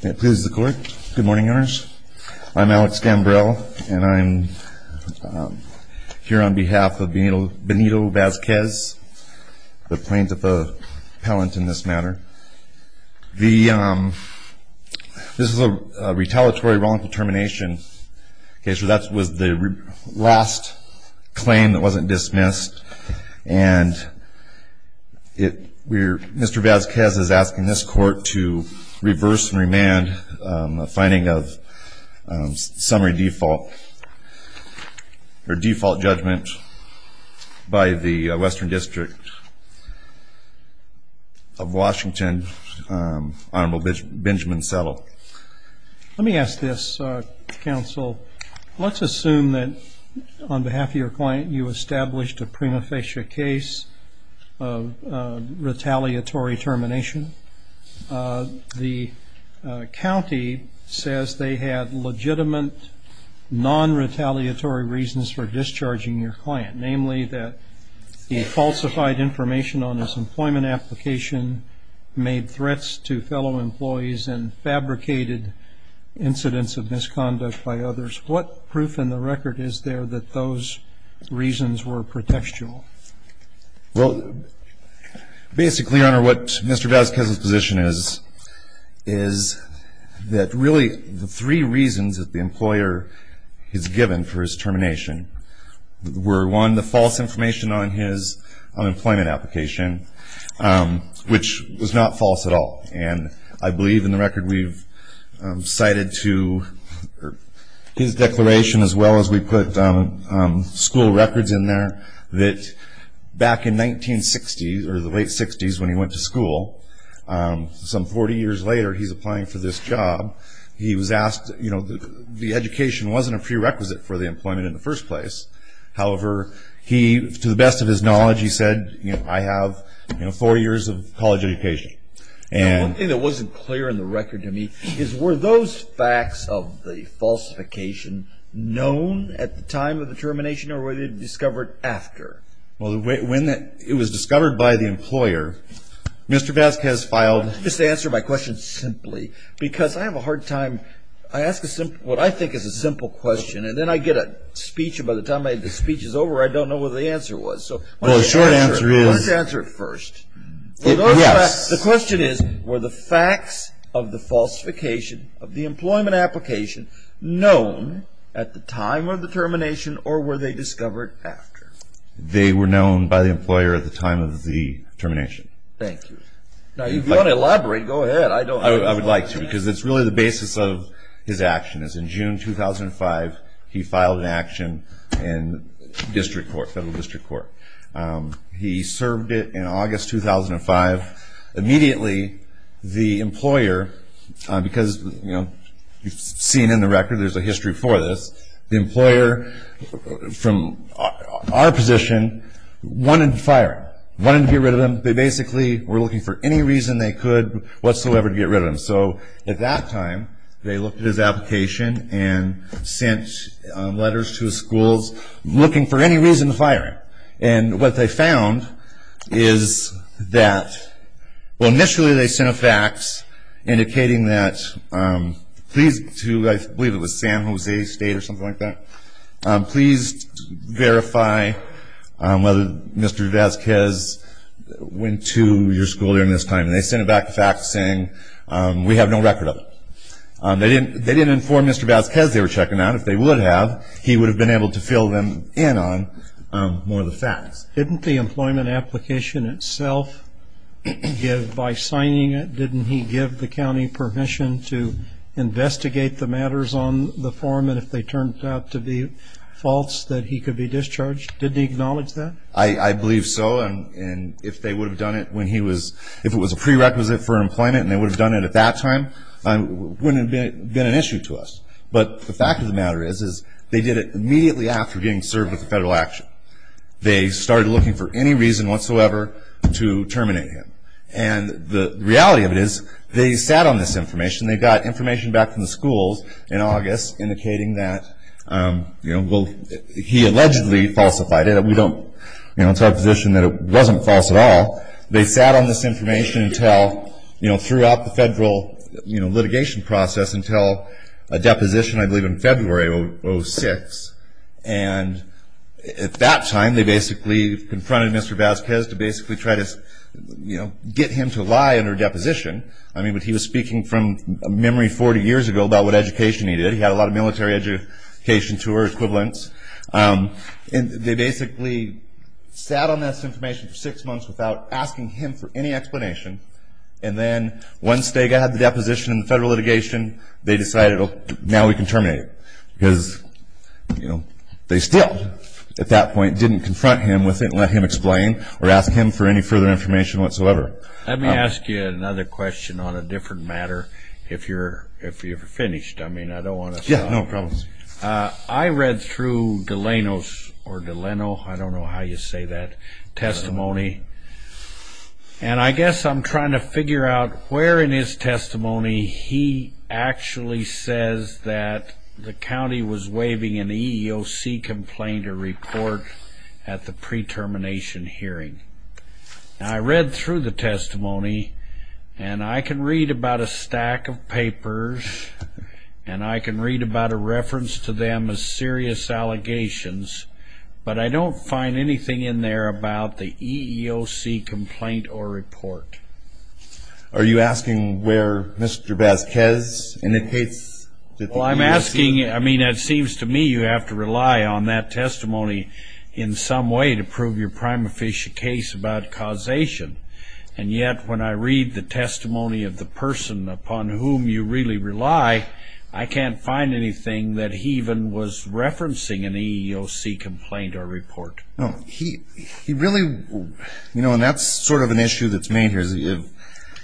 Good morning, owners. I'm Alex Gambrell, and I'm here on behalf of Benito Vasquez, the plaintiff appellant in this matter. This is a retaliatory wrongful termination. So that was the last claim that wasn't dismissed. And Mr. Vasquez is asking this court to reverse and remand a finding of summary default or default judgment by the Western District of Washington, Honorable Benjamin Settle. So let me ask this, counsel. Let's assume that on behalf of your client you established a prima facie case of retaliatory termination. The county says they had legitimate, non-retaliatory reasons for discharging your client, namely that he falsified information on his employment application, made threats to fellow employees, and fabricated incidents of misconduct by others. What proof in the record is there that those reasons were pretextual? Well, basically, Your Honor, what Mr. Vasquez's position is, is that really the three reasons that the employer is given for his termination were, one, the false information on his unemployment application, which was not false at all. And I believe in the record we've cited to his declaration, as well as we put school records in there, that back in 1960s, or the late 60s when he went to school, some 40 years later he's applying for this job, he was asked, you know, the education wasn't a prerequisite for the employment in the first place. However, he, to the best of his knowledge, he said, you know, I have, you know, four years of college education. One thing that wasn't clear in the record to me is were those facts of the falsification known at the time of the termination, or were they discovered after? Well, when it was discovered by the employer, Mr. Vasquez filed Let me just answer my question simply, because I have a hard time, I ask what I think is a simple question, and then I get a speech, and by the time the speech is over, I don't know what the answer was. Well, the short answer is Let's answer it first. Yes. The question is, were the facts of the falsification of the employment application known at the time of the termination, or were they discovered after? They were known by the employer at the time of the termination. Thank you. Now, if you want to elaborate, go ahead. I would like to, because it's really the basis of his actions. In June 2005, he filed an action in district court, federal district court. He served it in August 2005. Immediately, the employer, because, you know, seen in the record, there's a history for this, the employer, from our position, wanted to fire him, wanted to get rid of him. They basically were looking for any reason they could whatsoever to get rid of him. So at that time, they looked at his application and sent letters to schools looking for any reason to fire him. And what they found is that, well, initially they sent a fax indicating that, please, I believe it was San Jose State or something like that, please verify whether Mr. Vazquez went to your school during this time. And they sent back a fax saying, we have no record of it. They didn't inform Mr. Vazquez they were checking out. If they would have, he would have been able to fill them in on more of the facts. Didn't the employment application itself give, by signing it, didn't he give the county permission to investigate the matters on the form and if they turned out to be false, that he could be discharged? Didn't he acknowledge that? I believe so. And if they would have done it when he was, if it was a prerequisite for employment and they would have done it at that time, it wouldn't have been an issue to us. But the fact of the matter is they did it immediately after getting served with the federal action. They started looking for any reason whatsoever to terminate him. And the reality of it is they sat on this information. They got information back from the schools in August indicating that he allegedly falsified it. We don't, you know, it's our position that it wasn't false at all. They sat on this information until, you know, throughout the federal litigation process until a deposition I believe in February of 2006. And at that time they basically confronted Mr. Vazquez to basically try to, you know, get him to lie in her deposition. I mean, but he was speaking from memory 40 years ago about what education he did. He had a lot of military education to her equivalents. And they basically sat on this information for six months without asking him for any explanation. And then once they got the deposition in the federal litigation, they decided now we can terminate him because, you know, they still at that point didn't confront him with it Let me ask you another question on a different matter if you're finished. I mean, I don't want to stop. Yeah, no problem. I read through Delano's or Delano, I don't know how you say that, testimony. And I guess I'm trying to figure out where in his testimony he actually says that the county was waiving an EEOC complaint or report at the pre-termination hearing. I read through the testimony, and I can read about a stack of papers, and I can read about a reference to them as serious allegations, but I don't find anything in there about the EEOC complaint or report. Are you asking where Mr. Vazquez indicates that the EEOC? Well, I'm asking, I mean, it seems to me you have to rely on that testimony in some way to prove your prima facie case about causation, and yet when I read the testimony of the person upon whom you really rely, I can't find anything that he even was referencing an EEOC complaint or report. No, he really, you know, and that's sort of an issue that's made here.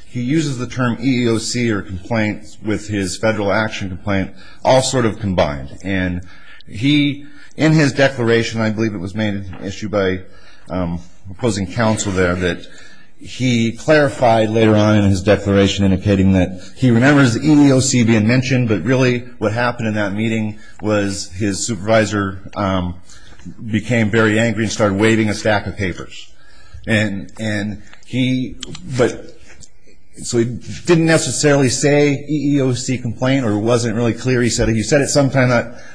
He uses the term EEOC or complaint with his federal action complaint all sort of combined, and he, in his declaration, I believe it was made an issue by opposing counsel there, that he clarified later on in his declaration indicating that he remembers the EEOC being mentioned, but really what happened in that meeting was his supervisor became very angry and started waiving a stack of papers. And he, but so he didn't necessarily say EEOC complaint or it wasn't really clear. He said it sometime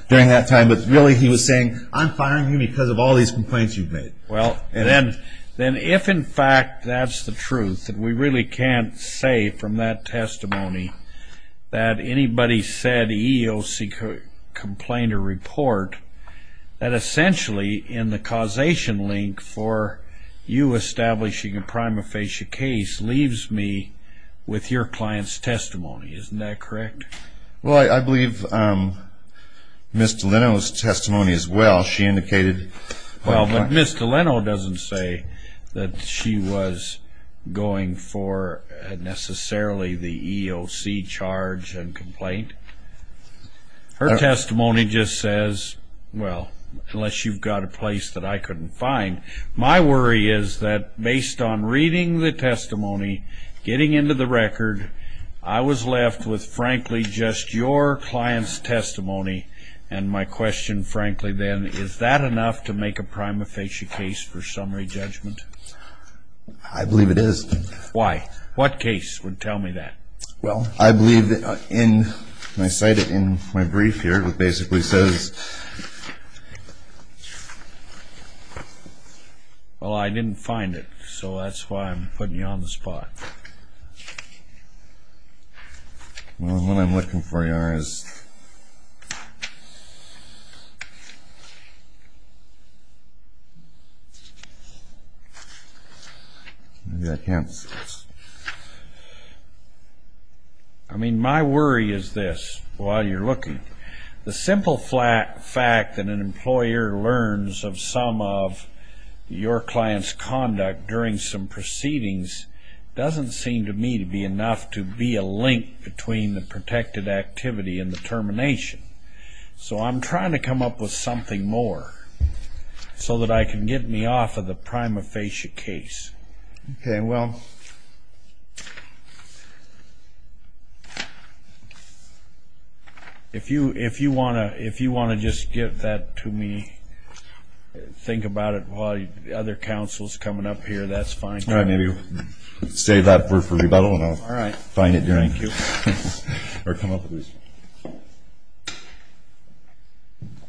during that time, but really he was saying, I'm firing you because of all these complaints you've made. Well, then if in fact that's the truth, that we really can't say from that testimony that anybody said EEOC complaint or report, that essentially in the causation link for you establishing a prima facie case leaves me with your client's testimony. Isn't that correct? Well, I believe Mr. Leno's testimony as well, she indicated. Well, but Mr. Leno doesn't say that she was going for necessarily the EEOC charge and complaint. Her testimony just says, well, unless you've got a place that I couldn't find. My worry is that based on reading the testimony, getting into the record, I was left with, frankly, just your client's testimony. And my question, frankly, then, is that enough to make a prima facie case for summary judgment? I believe it is. Why? What case would tell me that? Well, I believe in, when I cite it in my brief here, it basically says, well, I didn't find it, so that's why I'm putting you on the spot. Well, what I'm looking for here is, maybe I can't see this. I mean, my worry is this, while you're looking. The simple fact that an employer learns of some of your client's conduct during some proceedings doesn't seem to me to be enough to be a link between the protected activity and the termination. So I'm trying to come up with something more so that I can get me off of the prima facie case. Okay, well, if you want to just give that to me, think about it while the other counsel is coming up here, that's fine. All right, maybe we'll save that for rebuttal and I'll find it during. Thank you. Or come up with it.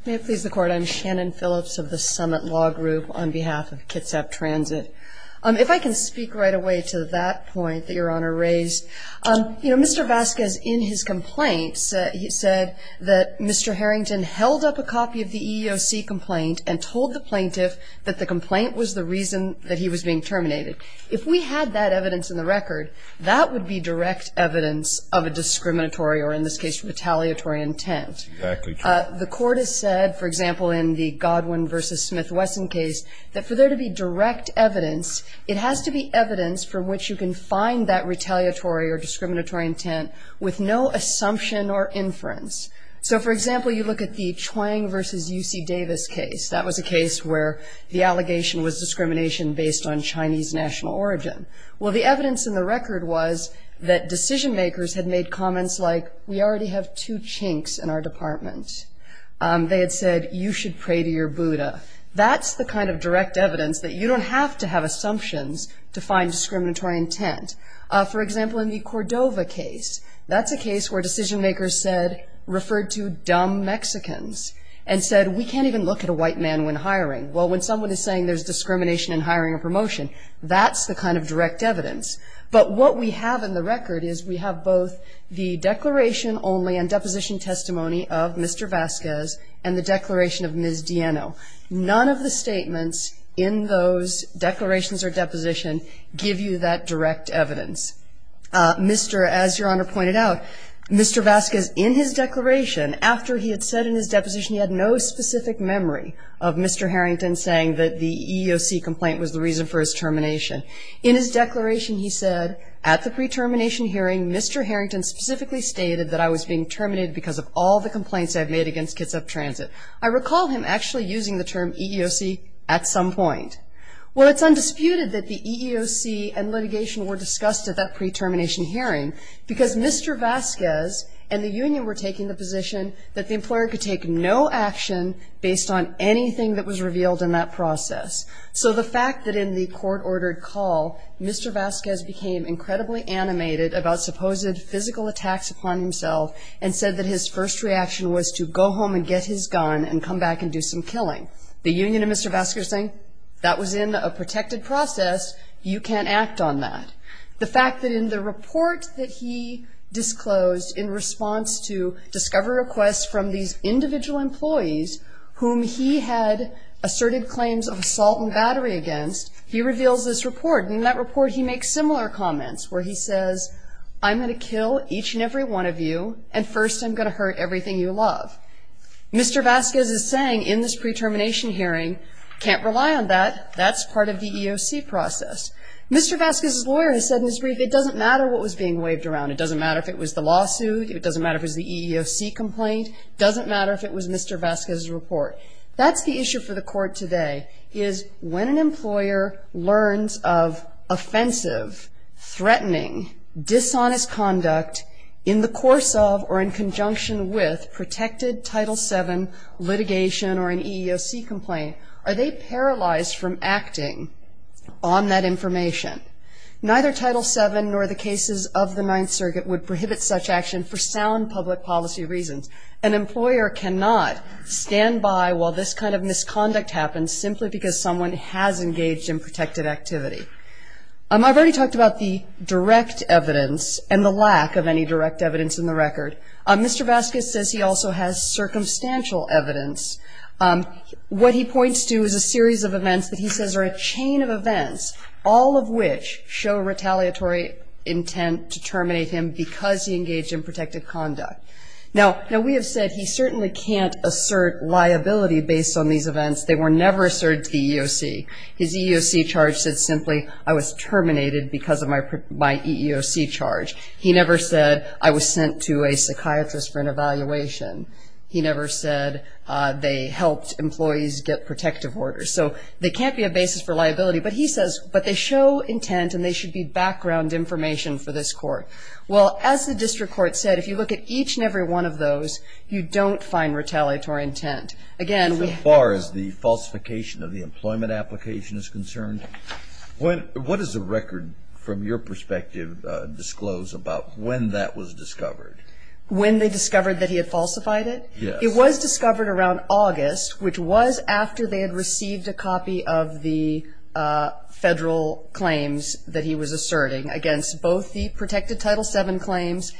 May it please the Court, I'm Shannon Phillips of the Summit Law Group on behalf of Kitsap Transit. If I can speak right away to that point that Your Honor raised. You know, Mr. Vasquez in his complaint said that Mr. Harrington held up a copy of the EEOC complaint and told the plaintiff that the complaint was the reason that he was being terminated. If we had that evidence in the record, that would be direct evidence of a discriminatory or in this case retaliatory intent. Exactly true. The Court has said, for example, in the Godwin v. Smith-Wesson case, that for there to be direct evidence, it has to be evidence from which you can find that retaliatory or discriminatory intent with no assumption or inference. So, for example, you look at the Chuang v. UC Davis case. That was a case where the allegation was discrimination based on Chinese national origin. Well, the evidence in the record was that decision makers had made comments like, we already have two chinks in our department. They had said, you should pray to your Buddha. That's the kind of direct evidence that you don't have to have assumptions to find discriminatory intent. For example, in the Cordova case, that's a case where decision makers said, referred to dumb Mexicans, and said, we can't even look at a white man when hiring. Well, when someone is saying there's discrimination in hiring or promotion, that's the kind of direct evidence. But what we have in the record is we have both the declaration only and deposition testimony of Mr. Vasquez and the declaration of Ms. Dieno. None of the statements in those declarations or depositions give you that direct evidence. Mr. As Your Honor pointed out, Mr. Vasquez, in his declaration, after he had said in his deposition he had no specific memory of Mr. Harrington saying that the EEOC complaint was the reason for his termination. In his declaration, he said, at the pre-termination hearing, Mr. Harrington specifically stated that I was being terminated because of all the complaints I've made against Kitsap Transit. I recall him actually using the term EEOC at some point. Well, it's undisputed that the EEOC and litigation were discussed at that pre-termination hearing because Mr. Vasquez and the union were taking the position that the employer could take no action based on anything that was revealed in that process. So the fact that in the court-ordered call, Mr. Vasquez became incredibly animated about supposed physical attacks upon himself and said that his first reaction was to go home and get his gun and come back and do some killing. The union and Mr. Vasquez are saying, that was in a protected process. You can't act on that. The fact that in the report that he disclosed in response to discovery requests from these individual employees whom he had asserted claims of assault and battery against, he reveals this report, and in that report he makes similar comments where he says, I'm going to kill each and every one of you, and first I'm going to hurt everything you love. Mr. Vasquez is saying in this pre-termination hearing, can't rely on that. That's part of the EEOC process. Mr. Vasquez's lawyer has said in his brief it doesn't matter what was being waved around. It doesn't matter if it was the lawsuit. It doesn't matter if it was the EEOC complaint. It doesn't matter if it was Mr. Vasquez's report. That's the issue for the court today, is when an employer learns of offensive, threatening, dishonest conduct in the course of or in conjunction with protected Title VII litigation or an EEOC complaint, are they paralyzed from acting on that information? Neither Title VII nor the cases of the Ninth Circuit would prohibit such action for sound public policy reasons. An employer cannot stand by while this kind of misconduct happens simply because someone has engaged in protected activity. I've already talked about the direct evidence and the lack of any direct evidence in the record. Mr. Vasquez says he also has circumstantial evidence. What he points to is a series of events that he says are a chain of events, all of which show retaliatory intent to terminate him because he engaged in protected conduct. Now, we have said he certainly can't assert liability based on these events. They were never asserted to the EEOC. His EEOC charge said simply, I was terminated because of my EEOC charge. He never said, I was sent to a psychiatrist for an evaluation. He never said they helped employees get protective orders. So there can't be a basis for liability. But he says, but they show intent and they should be background information for this court. Well, as the district court said, if you look at each and every one of those, you don't find retaliatory intent. Again, we have. So far as the falsification of the employment application is concerned, what does the record, from your perspective, disclose about when that was discovered? When they discovered that he had falsified it? Yes. It was discovered around August, which was after they had received a copy of the federal claims that he was in violation of Title VII claims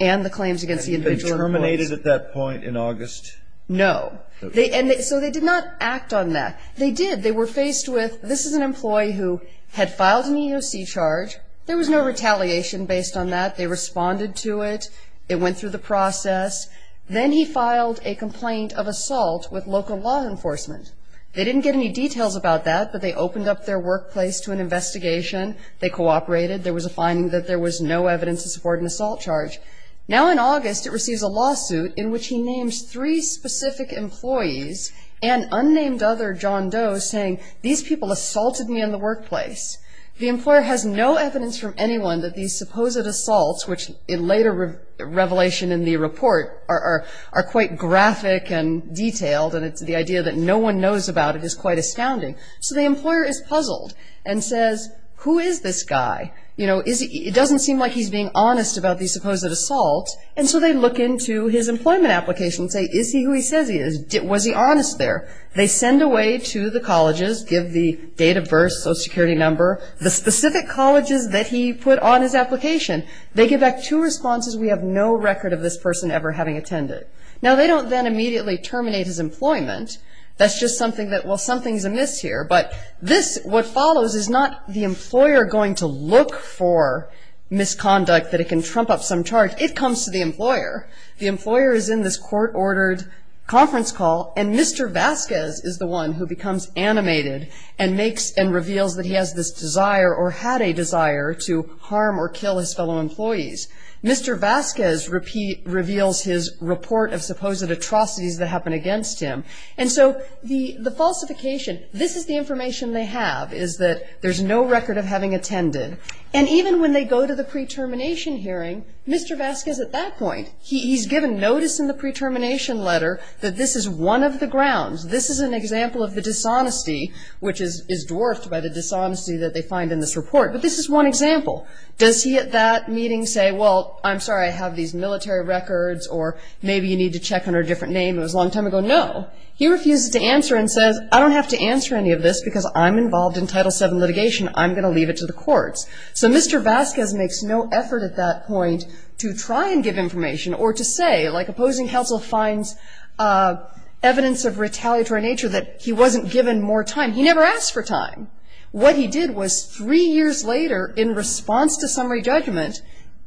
and the claims against the individual employees. Had he been terminated at that point in August? No. So they did not act on that. They did. They were faced with, this is an employee who had filed an EEOC charge. There was no retaliation based on that. They responded to it. It went through the process. Then he filed a complaint of assault with local law enforcement. They didn't get any details about that, but they opened up their workplace to an investigation. They cooperated. There was a finding that there was no evidence to support an assault charge. Now in August, it receives a lawsuit in which he names three specific employees and unnamed other John Doe saying, these people assaulted me in the workplace. The employer has no evidence from anyone that these supposed assaults, which in later revelation in the report, are quite graphic and detailed, and it's the idea that no one knows about it is quite astounding. So the employer is puzzled and says, who is this guy? It doesn't seem like he's being honest about these supposed assaults. And so they look into his employment application and say, is he who he says he is? Was he honest there? They send away to the colleges, give the date of birth, social security number, the specific colleges that he put on his application. They give back two responses, we have no record of this person ever having attended. Now they don't then immediately terminate his employment. That's just something that, well, something's amiss here. But this, what follows is not the employer going to look for misconduct, that it can trump up some charge. It comes to the employer. The employer is in this court-ordered conference call, and Mr. Vasquez is the one who becomes animated and makes and reveals that he has this desire or had a desire to harm or kill his fellow employees. Mr. Vasquez reveals his report of supposed atrocities that happened against him. And so the falsification, this is the information they have, is that there's no record of having attended. And even when they go to the pre-termination hearing, Mr. Vasquez at that point, he's given notice in the pre-termination letter that this is one of the grounds. This is an example of the dishonesty, which is dwarfed by the dishonesty that they find in this report. But this is one example. Does he at that meeting say, well, I'm sorry, I have these military records, or maybe you need to check under a different name, it was a long time ago? No. He refuses to answer and says, I don't have to answer any of this because I'm involved in Title VII litigation. I'm going to leave it to the courts. So Mr. Vasquez makes no effort at that point to try and give information or to say, like opposing counsel finds evidence of retaliatory nature that he wasn't given more time. He never asked for time. What he did was three years later, in response to summary judgment,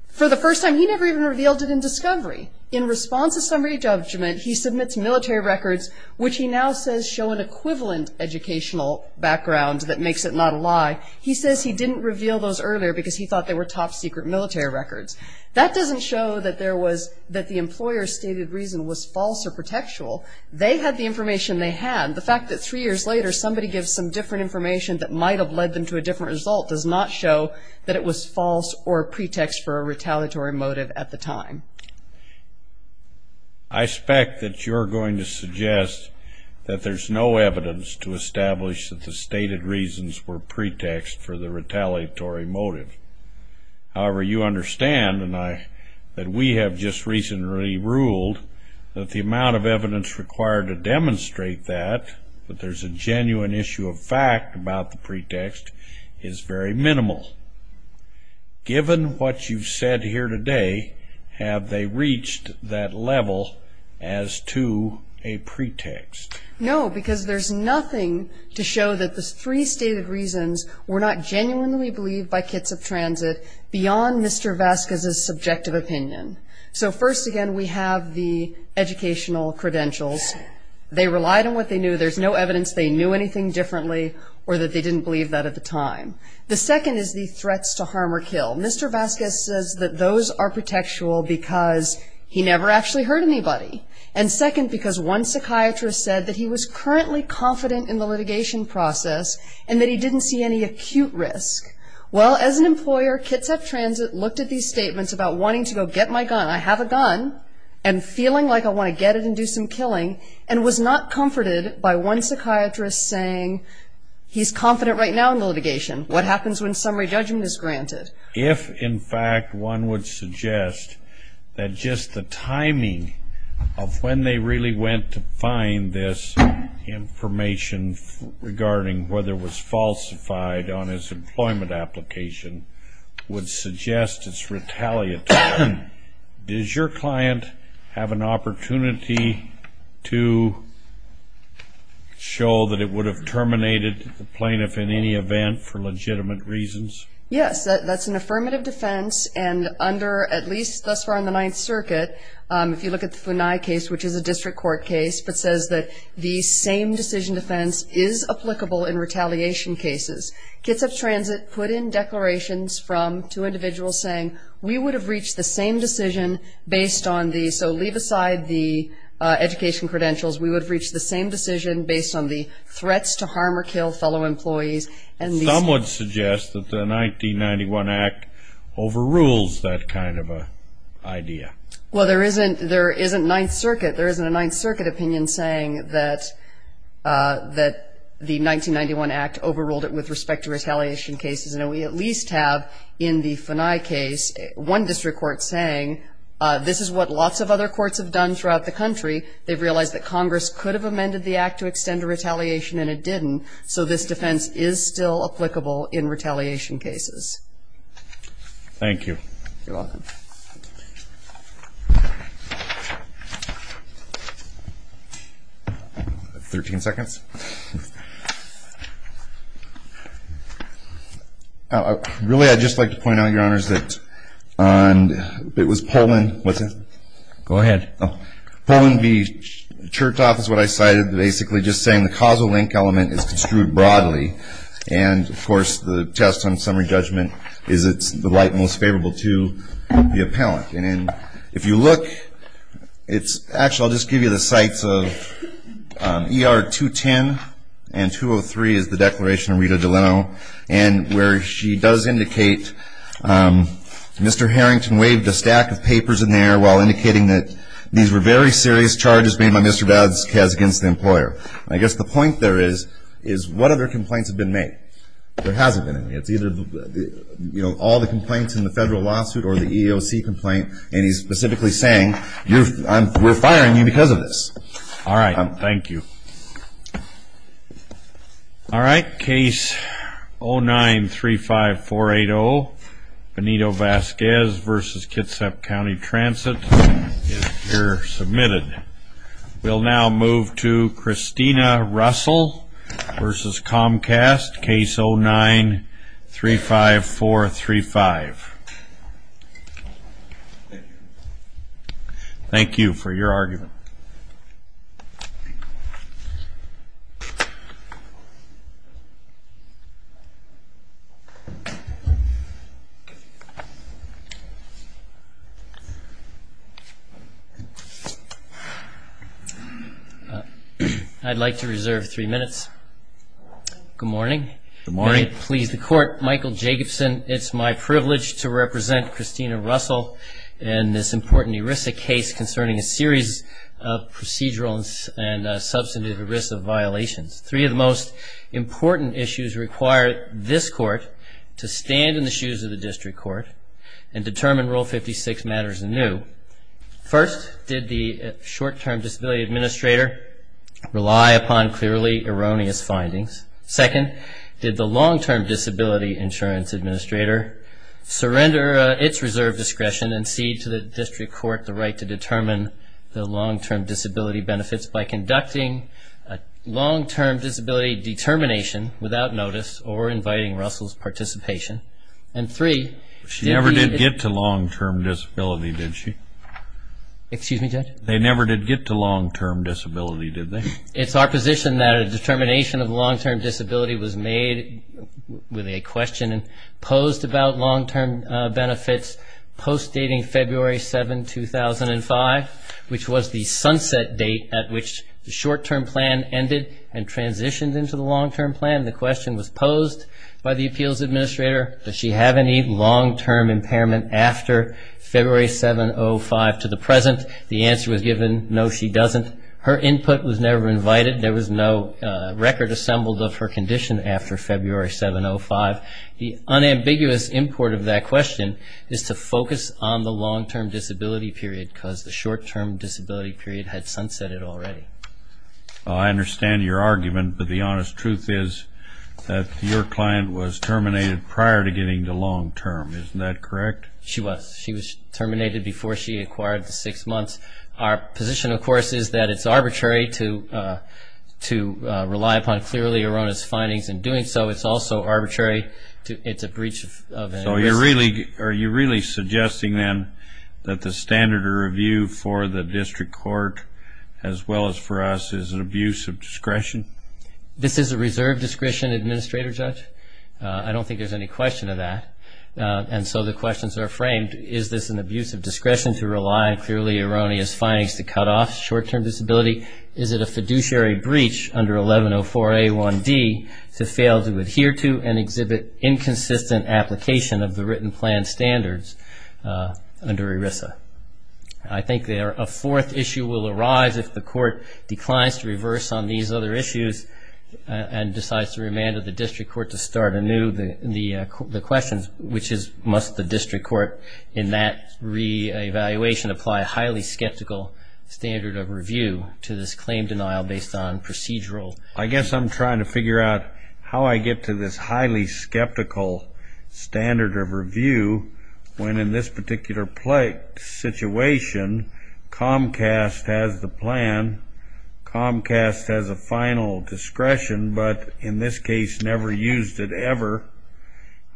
for the first time he never even revealed it in discovery. In response to summary judgment, he submits military records, which he now says show an equivalent educational background that makes it not a lie. He says he didn't reveal those earlier because he thought they were top secret military records. That doesn't show that the employer's stated reason was false or pretextual. They had the information they had. The fact that three years later somebody gives some different information that might have led them to a different result does not show that it was false or pretext for a retaliatory motive at the time. I expect that you're going to suggest that there's no evidence to establish that the stated reasons were pretext for the retaliatory motive. However, you understand, and we have just recently ruled, that the amount of evidence required to demonstrate that, but there's a genuine issue of fact about the pretext, is very minimal. Given what you've said here today, have they reached that level as to a pretext? No, because there's nothing to show that the three stated reasons were not genuinely believed by Kitsap Transit beyond Mr. Vasquez's subjective opinion. So first, again, we have the educational credentials. They relied on what they knew. There's no evidence they knew anything differently or that they didn't believe that at the time. The second is the threats to harm or kill. Mr. Vasquez says that those are pretextual because he never actually hurt anybody. And second, because one psychiatrist said that he was currently confident in the litigation process and that he didn't see any acute risk. Well, as an employer, Kitsap Transit looked at these statements about wanting to go get my gun. I have a gun and feeling like I want to get it and do some killing and was not comforted by one psychiatrist saying he's confident right now in the litigation. What happens when summary judgment is granted? If, in fact, one would suggest that just the timing of when they really went to find this information regarding whether it was falsified on his employment application would suggest it's retaliatory, does your client have an opportunity to show that it would have terminated the plaintiff in any event for legitimate reasons? Yes, that's an affirmative defense, and under at least thus far in the Ninth Circuit, if you look at the Funai case, which is a district court case, it says that the same decision defense is applicable in retaliation cases. Kitsap Transit put in declarations from two individuals saying, we would have reached the same decision based on the so leave aside the education credentials, we would have reached the same decision based on the threats to harm or kill fellow employees. Some would suggest that the 1991 Act overrules that kind of an idea. Well, there isn't Ninth Circuit, there isn't a Ninth Circuit opinion saying that the 1991 Act overruled it with respect to retaliation cases. And we at least have in the Funai case one district court saying, this is what lots of other courts have done throughout the country. They've realized that Congress could have amended the Act to extend a retaliation and it didn't, so this defense is still applicable in retaliation cases. Thank you. You're welcome. Thirteen seconds. Really, I'd just like to point out, Your Honors, that on, it was Poland, what's that? Go ahead. Poland v. Chertoff is what I cited, basically just saying the causal link element is construed broadly. And, of course, the test on summary judgment is it's the right and most favorable to the appellant. And if you look, it's, actually I'll just give you the sites of ER 210 and 203 is the declaration of Rita Delano, and where she does indicate Mr. Harrington waved a stack of papers in there while indicating that these were very serious charges made by Mr. Vazquez against the employer. I guess the point there is, is what other complaints have been made? There hasn't been any. It's either all the complaints in the federal lawsuit or the EEOC complaint, and he's specifically saying we're firing you because of this. All right. Thank you. All right. Case 09-35480, Benito-Vazquez v. Kitsap County Transit is here submitted. We'll now move to Christina Russell v. Comcast, case 09-35435. Thank you. Thank you for your argument. I'd like to reserve three minutes. Good morning. Good morning. Michael Jacobson. It's my privilege to represent Christina Russell in this important ERISA case concerning a series of procedural and substantive ERISA violations. Three of the most important issues require this court to stand in the shoes of the district court and determine Rule 56 matters anew. First, did the short-term disability administrator rely upon clearly erroneous findings? Second, did the long-term disability insurance administrator surrender its reserve discretion and cede to the district court the right to determine the long-term disability benefits by conducting a long-term disability determination without notice or inviting Russell's participation? And three, did the... She never did get to long-term disability, did she? Excuse me, Judge? They never did get to long-term disability, did they? It's our position that a determination of long-term disability was made with a question and posed about long-term benefits post-dating February 7, 2005, which was the sunset date at which the short-term plan ended and transitioned into the long-term plan. The question was posed by the appeals administrator, does she have any long-term impairment after February 7, 2005 to the present? The answer was given, no, she doesn't. Her input was never invited. There was no record assembled of her condition after February 7, 2005. The unambiguous import of that question is to focus on the long-term disability period because the short-term disability period had sunsetted already. I understand your argument, but the honest truth is that your client was terminated prior to getting to long-term. Isn't that correct? She was. She was terminated before she acquired the six months. Our position, of course, is that it's arbitrary to rely upon clearly erroneous findings in doing so. It's also arbitrary. It's a breach of a risk. So are you really suggesting then that the standard of review for the district court, as well as for us, is an abuse of discretion? This is a reserve discretion, Administrator Judge. I don't think there's any question of that. And so the questions are framed, is this an abuse of discretion to rely on clearly erroneous findings to cut off short-term disability? Is it a fiduciary breach under 1104A1D to fail to adhere to and exhibit inconsistent application of the written plan standards under ERISA? I think a fourth issue will arise if the court declines to reverse on these other issues and decides to remand the district court to start anew the questions, which is must the district court in that reevaluation apply a highly skeptical standard of review to this claim denial based on procedural. I guess I'm trying to figure out how I get to this highly skeptical standard of review when in this particular situation, Comcast has the plan. Comcast has a final discretion, but in this case never used it ever.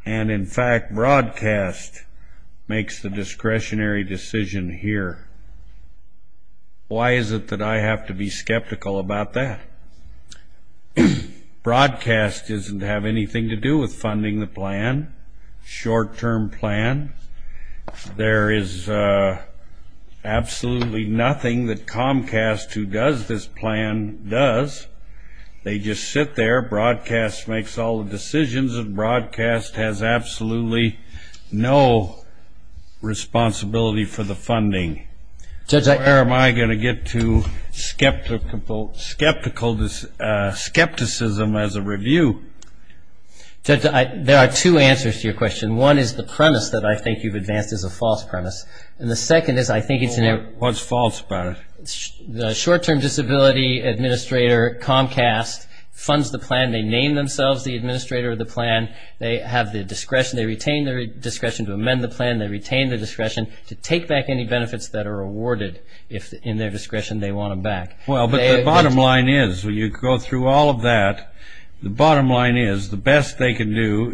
And in fact, Broadcast makes the discretionary decision here. Why is it that I have to be skeptical about that? Broadcast doesn't have anything to do with funding the plan, short-term plan. There is absolutely nothing that Comcast, who does this plan, does. They just sit there, Broadcast makes all the decisions, and Broadcast has absolutely no responsibility for the funding. Where am I going to get to skepticism as a review? Judge, there are two answers to your question. One is the premise that I think you've advanced is a false premise. And the second is I think it's an error. What's false about it? The short-term disability administrator, Comcast, funds the plan. They name themselves the administrator of the plan. They have the discretion. They retain their discretion to amend the plan. They retain their discretion to take back any benefits that are awarded. In their discretion, they want them back. Well, but the bottom line is, when you go through all of that, the bottom line is the best they can do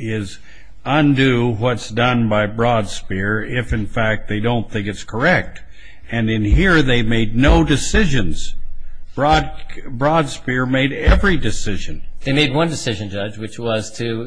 is undo what's done by Broadspear if, in fact, they don't think it's correct. And in here, they made no decisions. Broadspear made every decision. They made one decision, Judge, which was to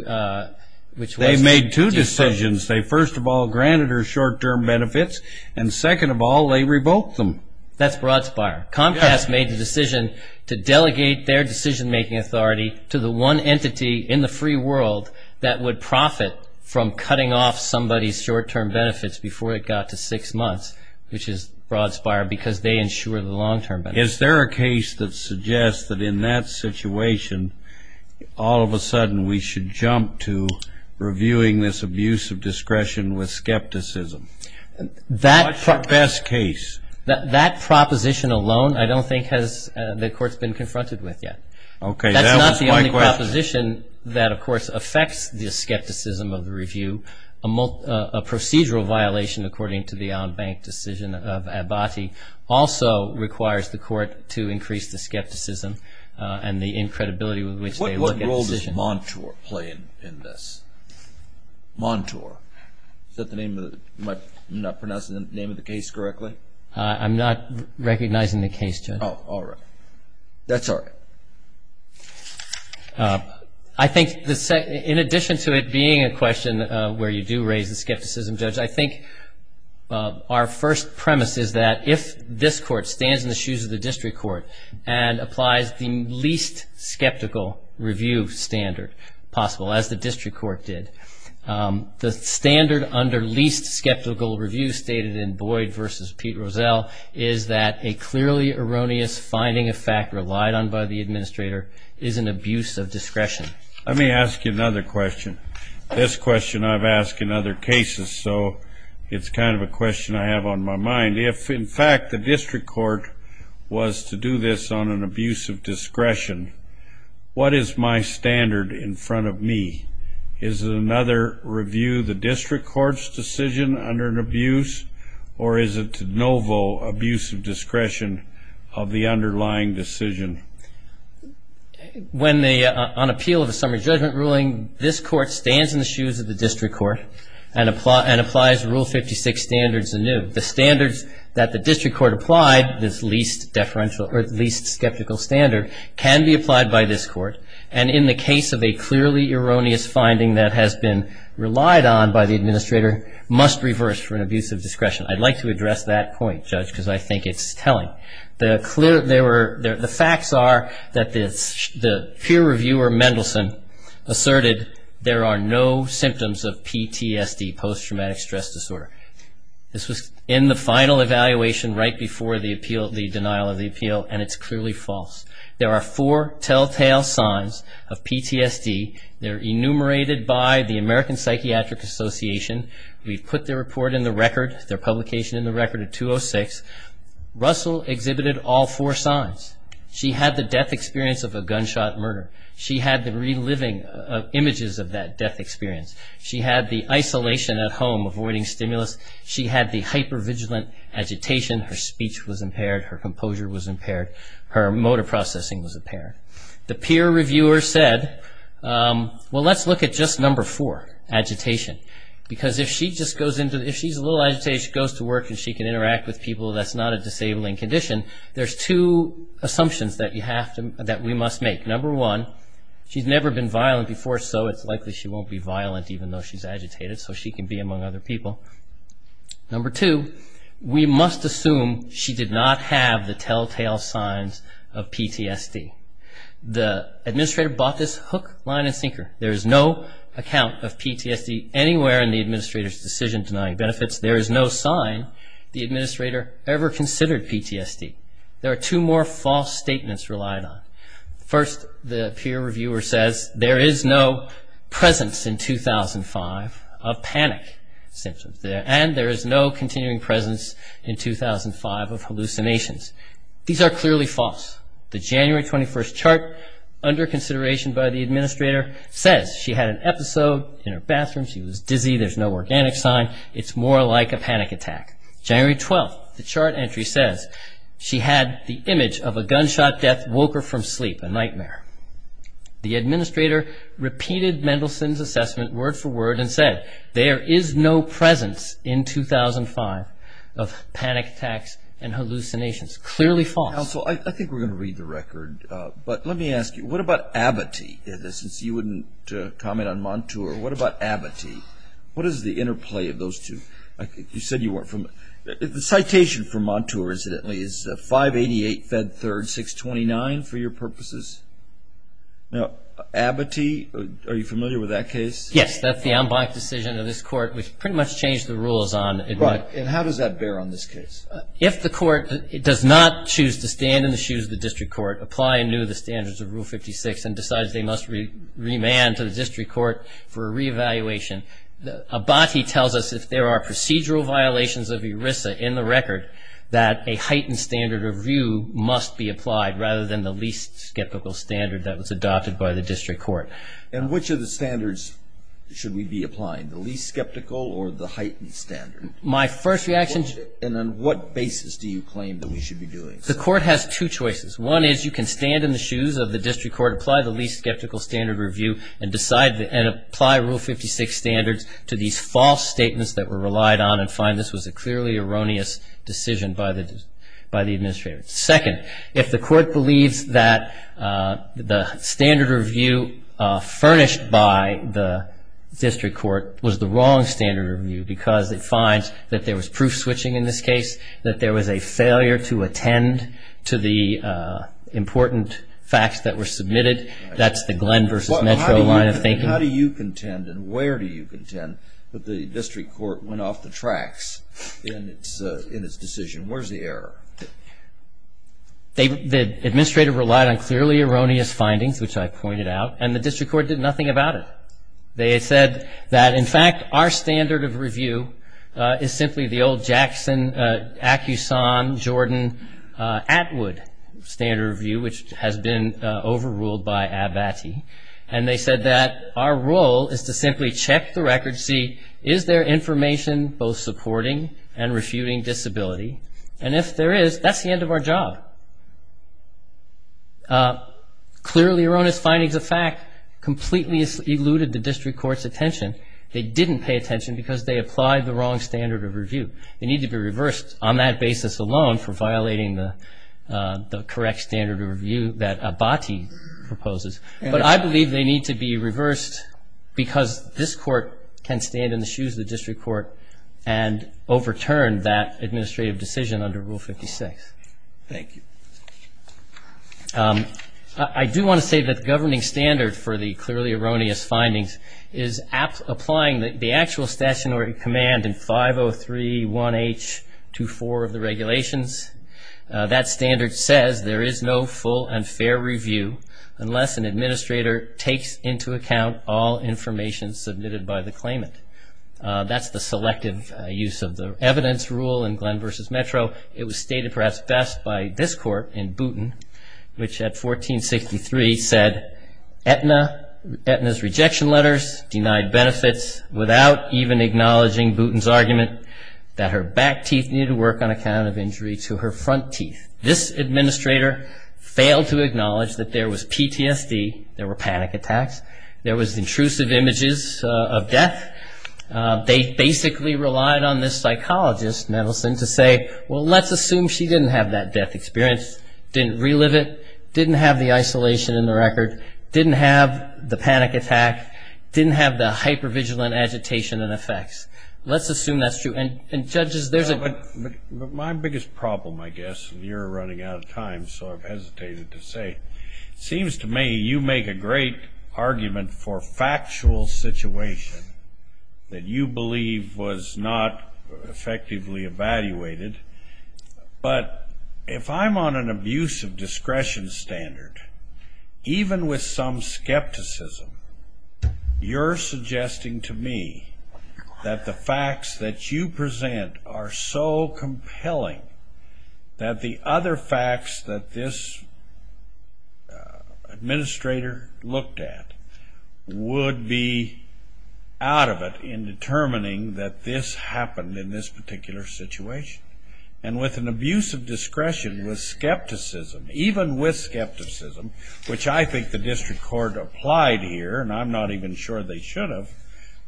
do so. They made two decisions. They, first of all, granted her short-term benefits. And, second of all, they revoked them. That's Broadspear. Comcast made the decision to delegate their decision-making authority to the one entity in the free world that would profit from cutting off somebody's short-term benefits before it got to six months, which is Broadspear, because they ensure the long-term benefits. Is there a case that suggests that in that situation, all of a sudden we should jump to reviewing this abuse of discretion with skepticism? What's the best case? That proposition alone I don't think has the courts been confronted with yet. Okay, that was my question. That's not the only proposition that, of course, affects the skepticism of the review, a procedural violation according to the out-of-bank decision of Abbate also requires the court to increase the skepticism and the incredibility with which they look at decisions. What role does Montour play in this? Montour. Is that the name of the, am I not pronouncing the name of the case correctly? I'm not recognizing the case, Judge. Oh, all right. That's all right. I think in addition to it being a question where you do raise the skepticism, Judge, I think our first premise is that if this court stands in the shoes of the district court and applies the least skeptical review standard possible, as the district court did, the standard under least skeptical review stated in Boyd v. Pete Rozelle is that a clearly erroneous finding of fact relied on by the administrator is an abuse of discretion. Let me ask you another question. This question I've asked in other cases, so it's kind of a question I have on my mind. If, in fact, the district court was to do this on an abuse of discretion, what is my standard in front of me? Is it another review the district court's decision under an abuse, or is it de novo abuse of discretion of the underlying decision? When the, on appeal of a summary judgment ruling, this court stands in the shoes of the district court and applies Rule 56 standards anew. The standards that the district court applied, this least deferential or least skeptical standard, can be applied by this court, and in the case of a clearly erroneous finding that has been relied on by the administrator must reverse for an abuse of discretion. I'd like to address that point, Judge, because I think it's telling. The facts are that the peer reviewer Mendelson asserted there are no symptoms of PTSD, post-traumatic stress disorder. This was in the final evaluation right before the appeal, the denial of the appeal, and it's clearly false. There are four telltale signs of PTSD. They're enumerated by the American Psychiatric Association. We've put their report in the record, their publication in the record at 206. Russell exhibited all four signs. She had the death experience of a gunshot murder. She had the reliving of images of that death experience. She had the isolation at home, avoiding stimulus. She had the hypervigilant agitation. Her speech was impaired. Her composure was impaired. Her motor processing was impaired. The peer reviewer said, well, let's look at just number four, agitation, because if she's a little agitated, she goes to work, and she can interact with people that's not a disabling condition, there's two assumptions that we must make. Number one, she's never been violent before, so it's likely she won't be violent even though she's agitated, so she can be among other people. Number two, we must assume she did not have the telltale signs of PTSD. The administrator bought this hook, line, and sinker. There is no account of PTSD anywhere in the administrator's decision denying benefits. There is no sign the administrator ever considered PTSD. There are two more false statements relied on. First, the peer reviewer says there is no presence in 2005 of panic symptoms, and there is no continuing presence in 2005 of hallucinations. These are clearly false. The January 21 chart, under consideration by the administrator, says she had an episode in her bathroom. She was dizzy. There's no organic sign. It's more like a panic attack. January 12, the chart entry says she had the image of a gunshot death, woke her from sleep, a nightmare. The administrator repeated Mendelsohn's assessment word for word and said, there is no presence in 2005 of panic attacks and hallucinations. Clearly false. Counsel, I think we're going to read the record, but let me ask you, what about abatis, since you wouldn't comment on Montour, what about abatis? What is the interplay of those two? You said you weren't familiar. The citation for Montour, incidentally, is 588 Fed 3rd 629 for your purposes. Now, abatis, are you familiar with that case? Yes, that's the en banc decision of this court, which pretty much changed the rules on it. Right, and how does that bear on this case? If the court does not choose to stand in the shoes of the district court, apply anew the standards of Rule 56, and decides they must remand to the district court for a reevaluation, abati tells us if there are procedural violations of ERISA in the record, that a heightened standard review must be applied, rather than the least skeptical standard that was adopted by the district court. And which of the standards should we be applying, the least skeptical or the heightened standard? My first reaction to And on what basis do you claim that we should be doing this? The court has two choices. One is you can stand in the shoes of the district court, apply the least skeptical standard review, and decide and apply Rule 56 standards to these false statements that were relied on and find this was a clearly erroneous decision by the administrator. Second, if the court believes that the standard review furnished by the district court was the wrong standard review because it finds that there was proof switching in this case, that there was a failure to attend to the important facts that were submitted, that's the Glenn versus Metro line of thinking. How do you contend and where do you contend that the district court went off the tracks in its decision? Where's the error? The administrator relied on clearly erroneous findings, which I pointed out, and the district court did nothing about it. They said that, in fact, our standard of review is simply the old Jackson, Acuson, Jordan, Atwood standard review, which has been overruled by Abbatey. And they said that our role is to simply check the record to see, is there information both supporting and refuting disability? And if there is, that's the end of our job. Clearly erroneous findings of fact completely eluded the district court's attention. They didn't pay attention because they applied the wrong standard of review. They need to be reversed on that basis alone for violating the correct standard of review that Abbatey proposes. But I believe they need to be reversed because this court can stand in the shoes of the district court and overturn that administrative decision under Rule 56. Thank you. I do want to say that the governing standard for the clearly erroneous findings is applying the actual stationary command in 503.1h.24 of the regulations. That standard says there is no full and fair review unless an administrator takes into account all information submitted by the claimant. That's the selective use of the evidence rule in Glenn v. Metro. It was stated perhaps best by this court in Boonton, which at 1463 said, Etna's rejection letters denied benefits without even acknowledging Boonton's argument that her back teeth needed to work on account of injury to her front teeth. This administrator failed to acknowledge that there was PTSD, there were panic attacks, there was intrusive images of death. They basically relied on this psychologist, Nettleson, to say, well, let's assume she didn't have that death experience, didn't relive it, didn't have the isolation in the record, didn't have the panic attack, didn't have the hypervigilant agitation and effects. Let's assume that's true. And, judges, there's a ---- My biggest problem, I guess, and you're running out of time, so I've hesitated to say, seems to me you make a great argument for factual situation that you believe was not effectively evaluated. But if I'm on an abusive discretion standard, even with some skepticism, you're suggesting to me that the facts that you present are so compelling that the other facts that this administrator looked at would be out of it in determining that this happened in this particular situation. And with an abusive discretion with skepticism, even with skepticism, which I think the district court applied here, and I'm not even sure they should have,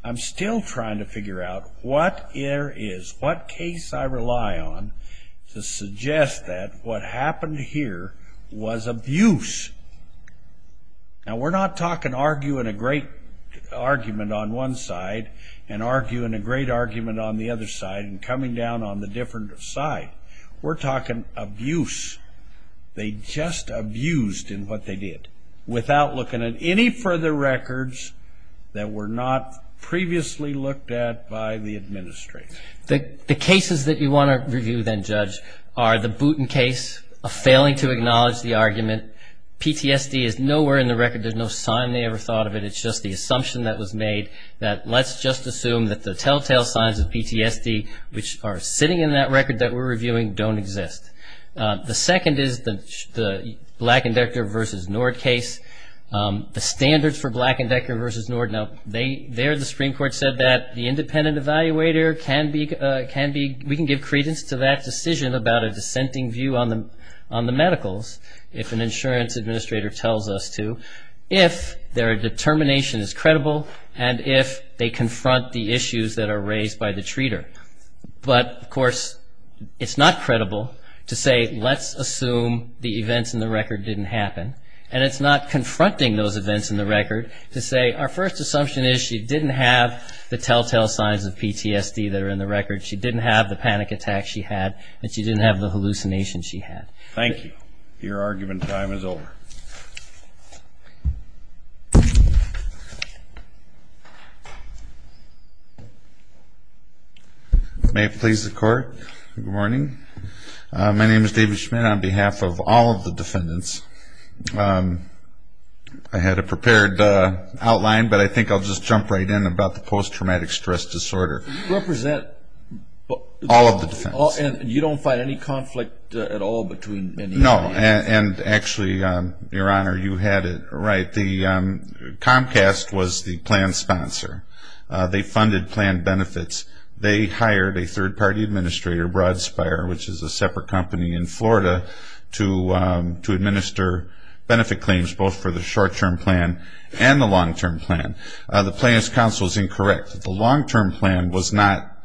I'm still trying to figure out what there is, what case I rely on to suggest that what happened here was abuse. Now, we're not talking arguing a great argument on one side and arguing a great argument on the other side and coming down on the different side. We're talking abuse. They just abused in what they did without looking at any further records that were not previously looked at by the administrator. The cases that you want to review then, Judge, are the Booten case of failing to acknowledge the argument. PTSD is nowhere in the record. There's no sign they ever thought of it. It's just the assumption that was made that let's just assume that the telltale signs of PTSD, which are sitting in that record that we're reviewing, don't exist. The second is the Black and Decker v. Nord case. The standards for Black and Decker v. Nord, now, there the Supreme Court said that the independent evaluator can be, we can give credence to that decision about a dissenting view on the medicals, if an insurance administrator tells us to, if their determination is credible and if they confront the issues that are raised by the treater. But, of course, it's not credible to say let's assume the events in the record didn't happen, and it's not confronting those events in the record, to say our first assumption is she didn't have the telltale signs of PTSD that are in the record, she didn't have the panic attacks she had, and she didn't have the hallucinations she had. Thank you. Your argument time is over. May it please the Court, good morning. My name is David Schmidt. On behalf of all of the defendants, I had a prepared outline, but I think I'll just jump right in about the post-traumatic stress disorder. You represent all of the defendants. You don't find any conflict at all between any of the defendants? No, and actually, Your Honor, you had it right. Comcast was the plan sponsor. They funded plan benefits. They hired a third-party administrator, Broad Spire, which is a separate company in Florida, to administer benefit claims both for the short-term plan and the long-term plan. The plaintiff's counsel is incorrect. The long-term plan was not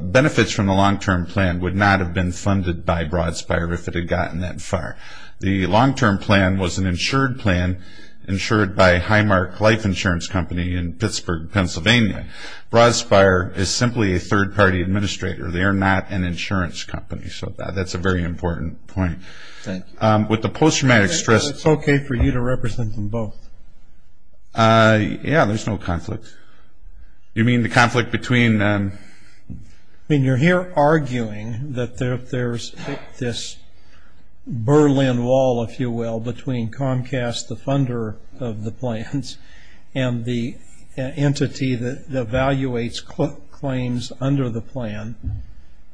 benefits from the long-term plan would not have been funded by Broad Spire if it had gotten that far. The long-term plan was an insured plan insured by Highmark Life Insurance Company in Pittsburgh, Pennsylvania. Broad Spire is simply a third-party administrator. They are not an insurance company. So that's a very important point. With the post-traumatic stress disorder. Is it okay for you to represent them both? Yeah, there's no conflict. You mean the conflict between them? I mean, you're here arguing that there's this Berlin Wall, if you will, between Comcast, the funder of the plans, and the entity that evaluates claims under the plan.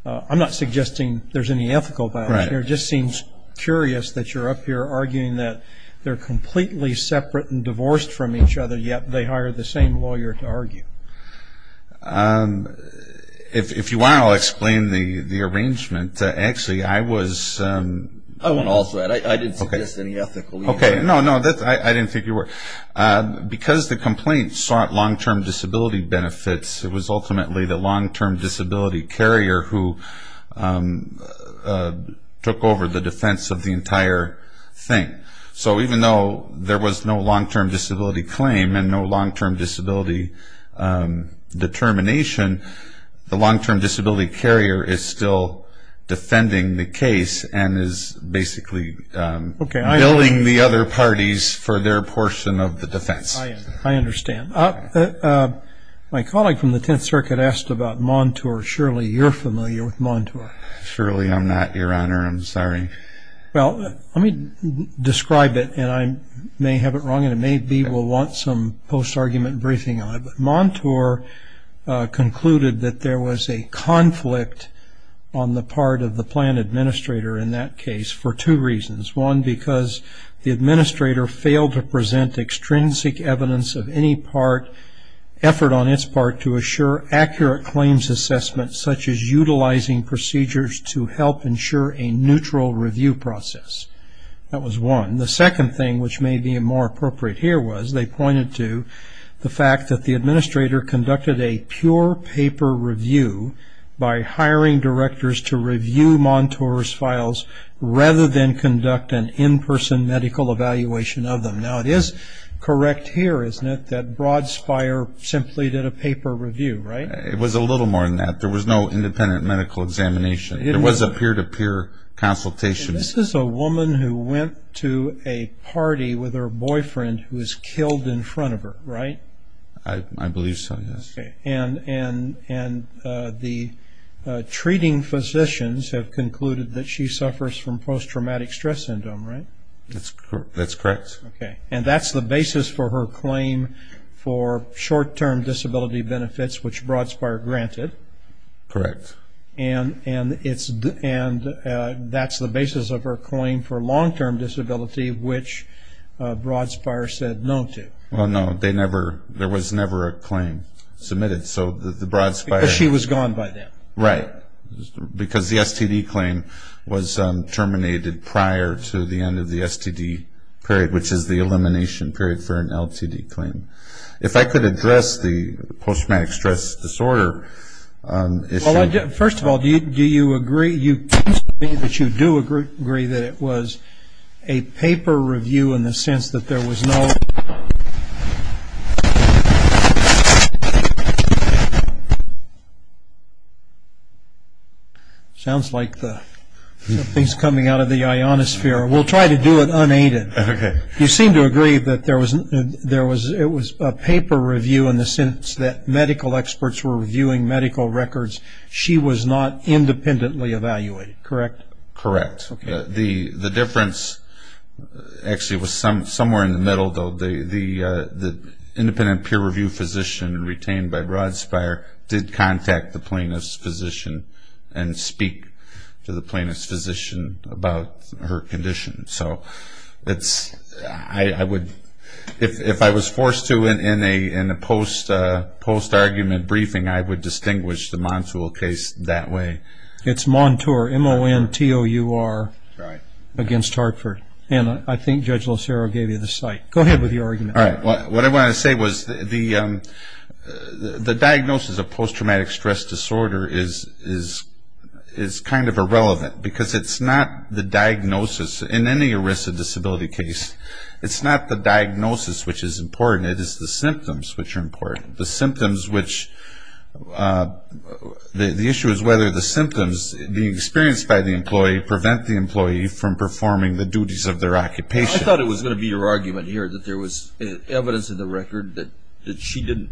I'm not suggesting there's any ethical balance here. It just seems curious that you're up here arguing that they're completely separate and divorced from each other, yet they hire the same lawyer to argue. If you want, I'll explain the arrangement. Actually, I was... I want to also add, I didn't suggest any ethical... Okay, no, no, I didn't think you were. Because the complaint sought long-term disability benefits, it was ultimately the long-term disability carrier who took over the defense of the entire thing. So even though there was no long-term disability claim and no long-term disability determination, the long-term disability carrier is still defending the case and is basically billing the other parties for their portion of the defense. I understand. My colleague from the Tenth Circuit asked about Montour. Surely you're familiar with Montour. Surely I'm not, Your Honor. I'm sorry. Well, let me describe it, and I may have it wrong, and maybe we'll want some post-argument briefing on it. Montour concluded that there was a conflict on the part of the plan administrator in that case for two reasons. One, because the administrator failed to present extrinsic evidence of any part, effort on its part to assure accurate claims assessment, such as utilizing procedures to help ensure a neutral review process. That was one. The second thing, which may be more appropriate here, was they pointed to the fact that the administrator conducted a pure paper review by hiring directors to review Montour's files rather than conduct an in-person medical evaluation of them. Now, it is correct here, isn't it, that Broadspire simply did a paper review, right? It was a little more than that. There was no independent medical examination. There was a peer-to-peer consultation. This is a woman who went to a party with her boyfriend who was killed in front of her, right? I believe so, yes. Okay. And the treating physicians have concluded that she suffers from post-traumatic stress syndrome, right? That's correct. Okay. And that's the basis for her claim for short-term disability benefits, which Broadspire granted. Correct. And that's the basis of her claim for long-term disability, which Broadspire said no to. Well, no, there was never a claim submitted, so the Broadspire... Because she was gone by then. Right, because the STD claim was terminated prior to the end of the STD period, which is the elimination period for an LTD claim. If I could address the post-traumatic stress disorder issue... Well, first of all, do you agree that it was a paper review in the sense that there was no... It sounds like something's coming out of the ionosphere. We'll try to do it unaided. Okay. You seem to agree that it was a paper review in the sense that medical experts were reviewing medical records. She was not independently evaluated, correct? Correct. The difference actually was somewhere in the middle, though. The independent peer review physician retained by Broadspire did contact the plaintiff's physician and speak to the plaintiff's physician about her condition. If I was forced to in a post-argument briefing, I would distinguish the Montour case that way. It's Montour, M-O-N-T-O-U-R, against Hartford. And I think Judge LoCero gave you the site. Go ahead with your argument. All right. What I wanted to say was the diagnosis of post-traumatic stress disorder is kind of irrelevant because it's not the diagnosis. In any ERISA disability case, it's not the diagnosis which is important. It is the symptoms which are important. The symptoms which... The issue is whether the symptoms being experienced by the employee prevent the employee from performing the duties of their occupation. I thought it was going to be your argument here that there was evidence in the record that she didn't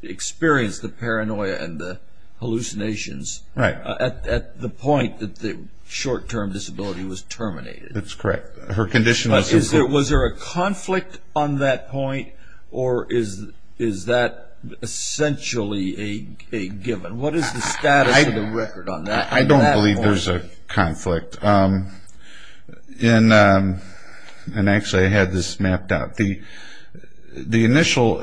experience the paranoia and the hallucinations. Right. At the point that the short-term disability was terminated. That's correct. Her condition was... Was there a conflict on that point, or is that essentially a given? What is the status of the record on that point? I don't believe there's a conflict. And actually, I had this mapped out. The initial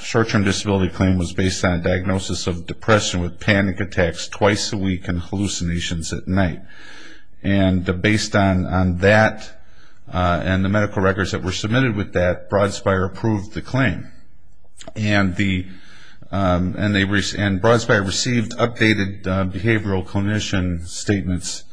short-term disability claim was based on diagnosis of depression with panic attacks twice a week and hallucinations at night. And based on that and the medical records that were submitted with that, Broad Spire approved the claim. And Broad Spire received updated behavioral clinician statements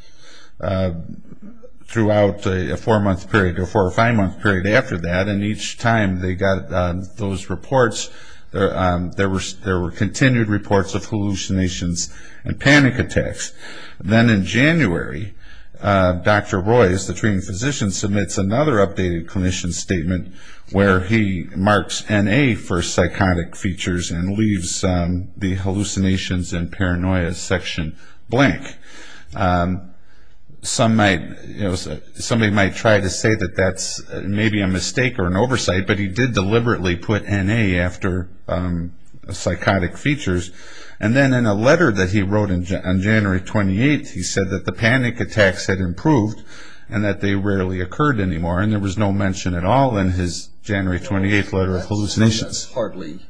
throughout a four-month period or four or five-month period after that. And each time they got those reports, there were continued reports of hallucinations and panic attacks. Then in January, Dr. Roy, as the treating physician, submits another updated clinician statement where he marks N.A. for psychotic features and leaves the hallucinations and paranoia section blank. Somebody might try to say that that's maybe a mistake or an oversight, but he did deliberately put N.A. after psychotic features. And then in a letter that he wrote on January 28th, he said that the panic attacks had improved and that they rarely occurred anymore. And there was no mention at all in his January 28th letter of hallucinations. That's hardly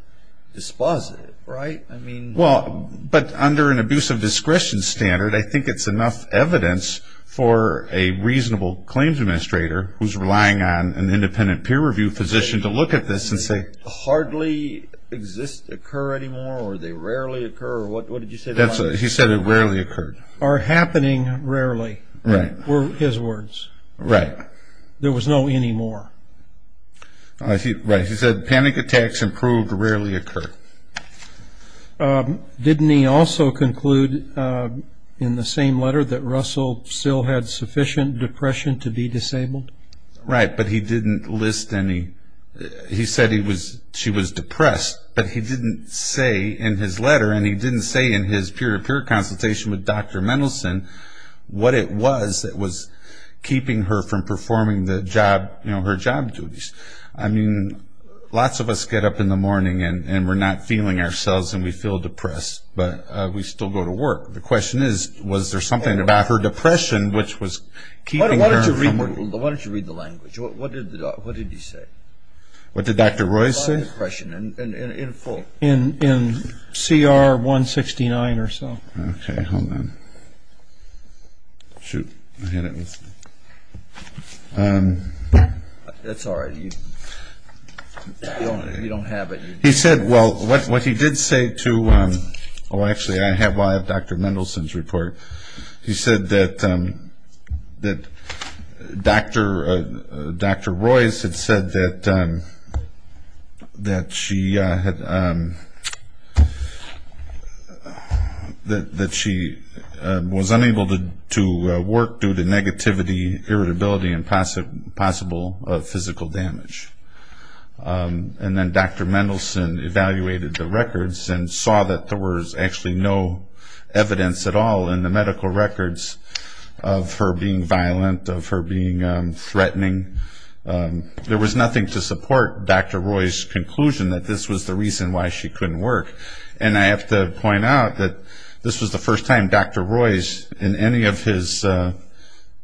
dispositive, right? But under an abuse of discretion standard, I think it's enough evidence for a reasonable claims administrator who's relying on an independent peer review physician to look at this and say... Hardly occur anymore or they rarely occur? What did you say? He said it rarely occurred. Or happening rarely were his words. Right. There was no anymore. Right. He said panic attacks improved rarely occurred. Didn't he also conclude in the same letter that Russell still had sufficient depression to be disabled? Right, but he didn't list any... He said she was depressed, but he didn't say in his letter and he didn't say in his peer-to-peer consultation with Dr. Mendelson what it was that was keeping her from performing her job duties. I mean, lots of us get up in the morning and we're not feeling ourselves and we feel depressed, but we still go to work. The question is, was there something about her depression which was keeping her from working? Why don't you read the language? What did he say? What did Dr. Royce say? About depression in full. In CR 169 or so. Okay, hold on. Shoot, I had it with me. That's all right. You don't have it. He said, well, what he did say to... Oh, actually, I have Dr. Mendelson's report. He said that Dr. Royce had said that she was unable to work due to negativity, irritability, and possible physical damage. And then Dr. Mendelson evaluated the records and saw that there was actually no evidence at all in the medical records of her being violent, of her being threatening. There was nothing to support Dr. Royce's conclusion that this was the reason why she couldn't work. And I have to point out that this was the first time Dr. Royce, in any of his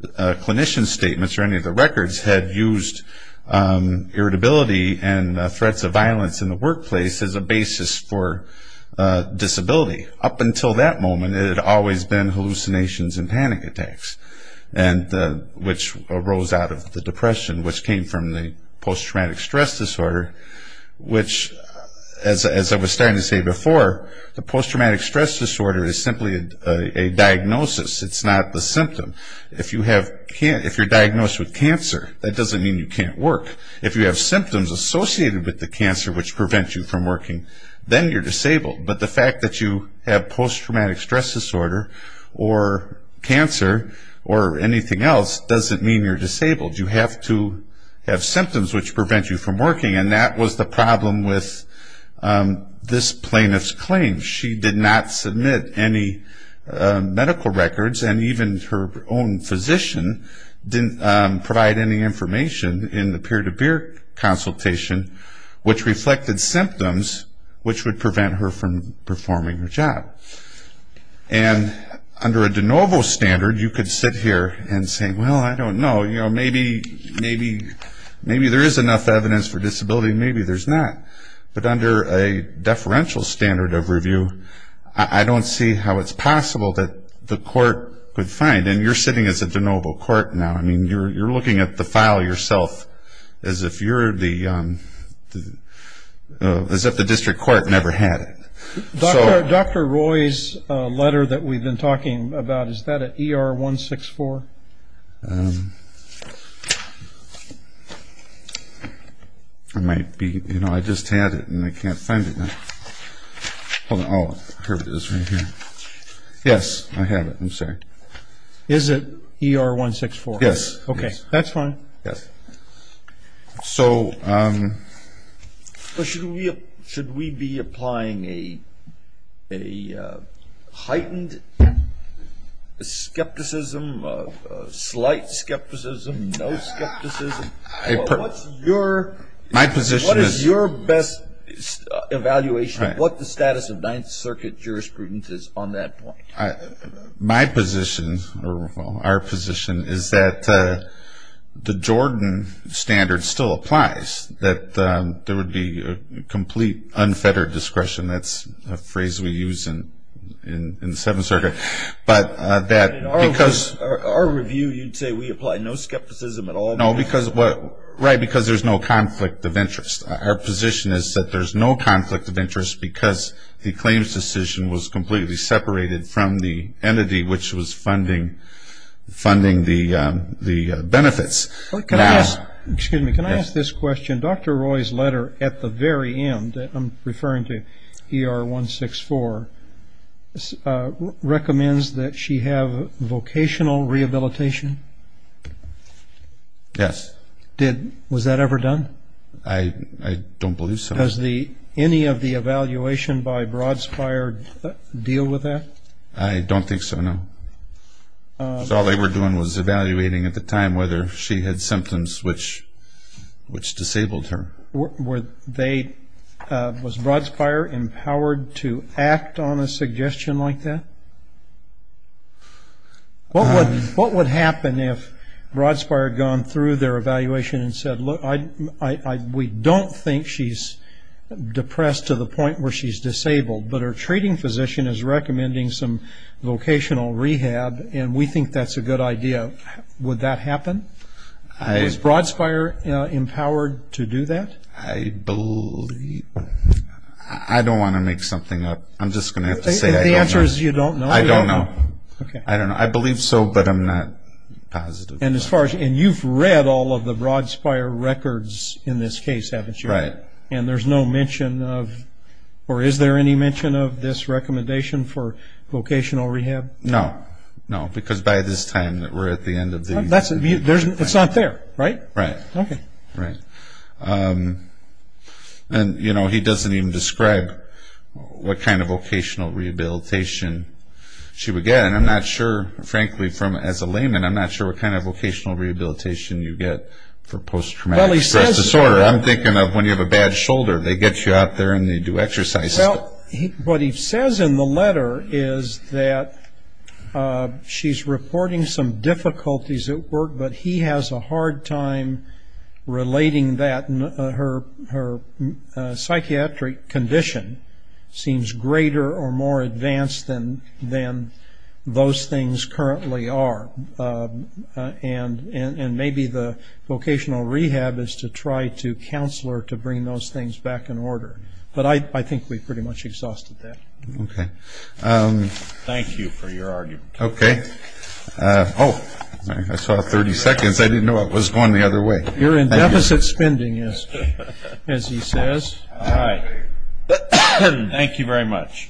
clinician statements or any of the records, had used irritability and threats of violence in the workplace as a basis for disability. Up until that moment, it had always been hallucinations and panic attacks, which arose out of the depression, which came from the post-traumatic stress disorder, which, as I was starting to say before, the post-traumatic stress disorder is simply a diagnosis. It's not the symptom. If you're diagnosed with cancer, that doesn't mean you can't work. If you have symptoms associated with the cancer which prevent you from working, then you're disabled. But the fact that you have post-traumatic stress disorder or cancer or anything else doesn't mean you're disabled. You have to have symptoms which prevent you from working, and that was the problem with this plaintiff's claim. She did not submit any medical records, and even her own physician didn't provide any information in the peer-to-peer consultation which reflected symptoms which would prevent her from performing her job. And under a de novo standard, you could sit here and say, well, I don't know, maybe there is enough evidence for disability, maybe there's not. But under a deferential standard of review, I don't see how it's possible that the court could find. And you're sitting as a de novo court now. I mean, you're looking at the file yourself as if the district court never had it. Dr. Roy's letter that we've been talking about, is that an ER-164? It might be. You know, I just had it and I can't find it now. Hold on. Oh, here it is right here. Yes, I have it. I'm sorry. Is it ER-164? Yes. Okay. That's fine. Yes. So should we be applying a heightened skepticism, slight skepticism, no skepticism? What is your best evaluation, what the status of Ninth Circuit jurisprudence is on that point? My position, or our position, is that the Jordan standard still applies, that there would be a complete unfettered discretion. That's a phrase we use in the Seventh Circuit. But that because of our review, you'd say we apply no skepticism at all? No, because there's no conflict of interest. Our position is that there's no conflict of interest because the claims decision was completely separated from the entity which was funding the benefits. Excuse me, can I ask this question? Dr. Roy's letter at the very end, I'm referring to ER-164, recommends that she have vocational rehabilitation? Yes. Was that ever done? I don't believe so. Does any of the evaluation by Broadspire deal with that? I don't think so, no. Because all they were doing was evaluating at the time whether she had symptoms which disabled her. Was Broadspire empowered to act on a suggestion like that? What would happen if Broadspire had gone through their evaluation and said, we don't think she's depressed to the point where she's disabled, but her treating physician is recommending some vocational rehab, and we think that's a good idea. Would that happen? Was Broadspire empowered to do that? I don't want to make something up. I'm just going to have to say I don't know. The answer is you don't know? I don't know. I believe so, but I'm not positive. And you've read all of the Broadspire records in this case, haven't you? Right. And there's no mention of, or is there any mention of this recommendation for vocational rehab? No. No, because by this time we're at the end of the evaluation. It's not there, right? Right. Okay. Right. And, you know, he doesn't even describe what kind of vocational rehabilitation she would get. And I'm not sure, frankly, as a layman, I'm not sure what kind of vocational rehabilitation you get for post-traumatic stress disorder. I'm thinking of when you have a bad shoulder, they get you out there and they do exercises. Well, what he says in the letter is that she's reporting some difficulties at work, but he has a hard time relating that. And her psychiatric condition seems greater or more advanced than those things currently are. And maybe the vocational rehab is to try to counsel her to bring those things back in order. But I think we've pretty much exhausted that. Okay. Thank you for your argument. Okay. Oh, I saw 30 seconds. I didn't know I was going the other way. You're in deficit spending, as he says. All right. Thank you very much.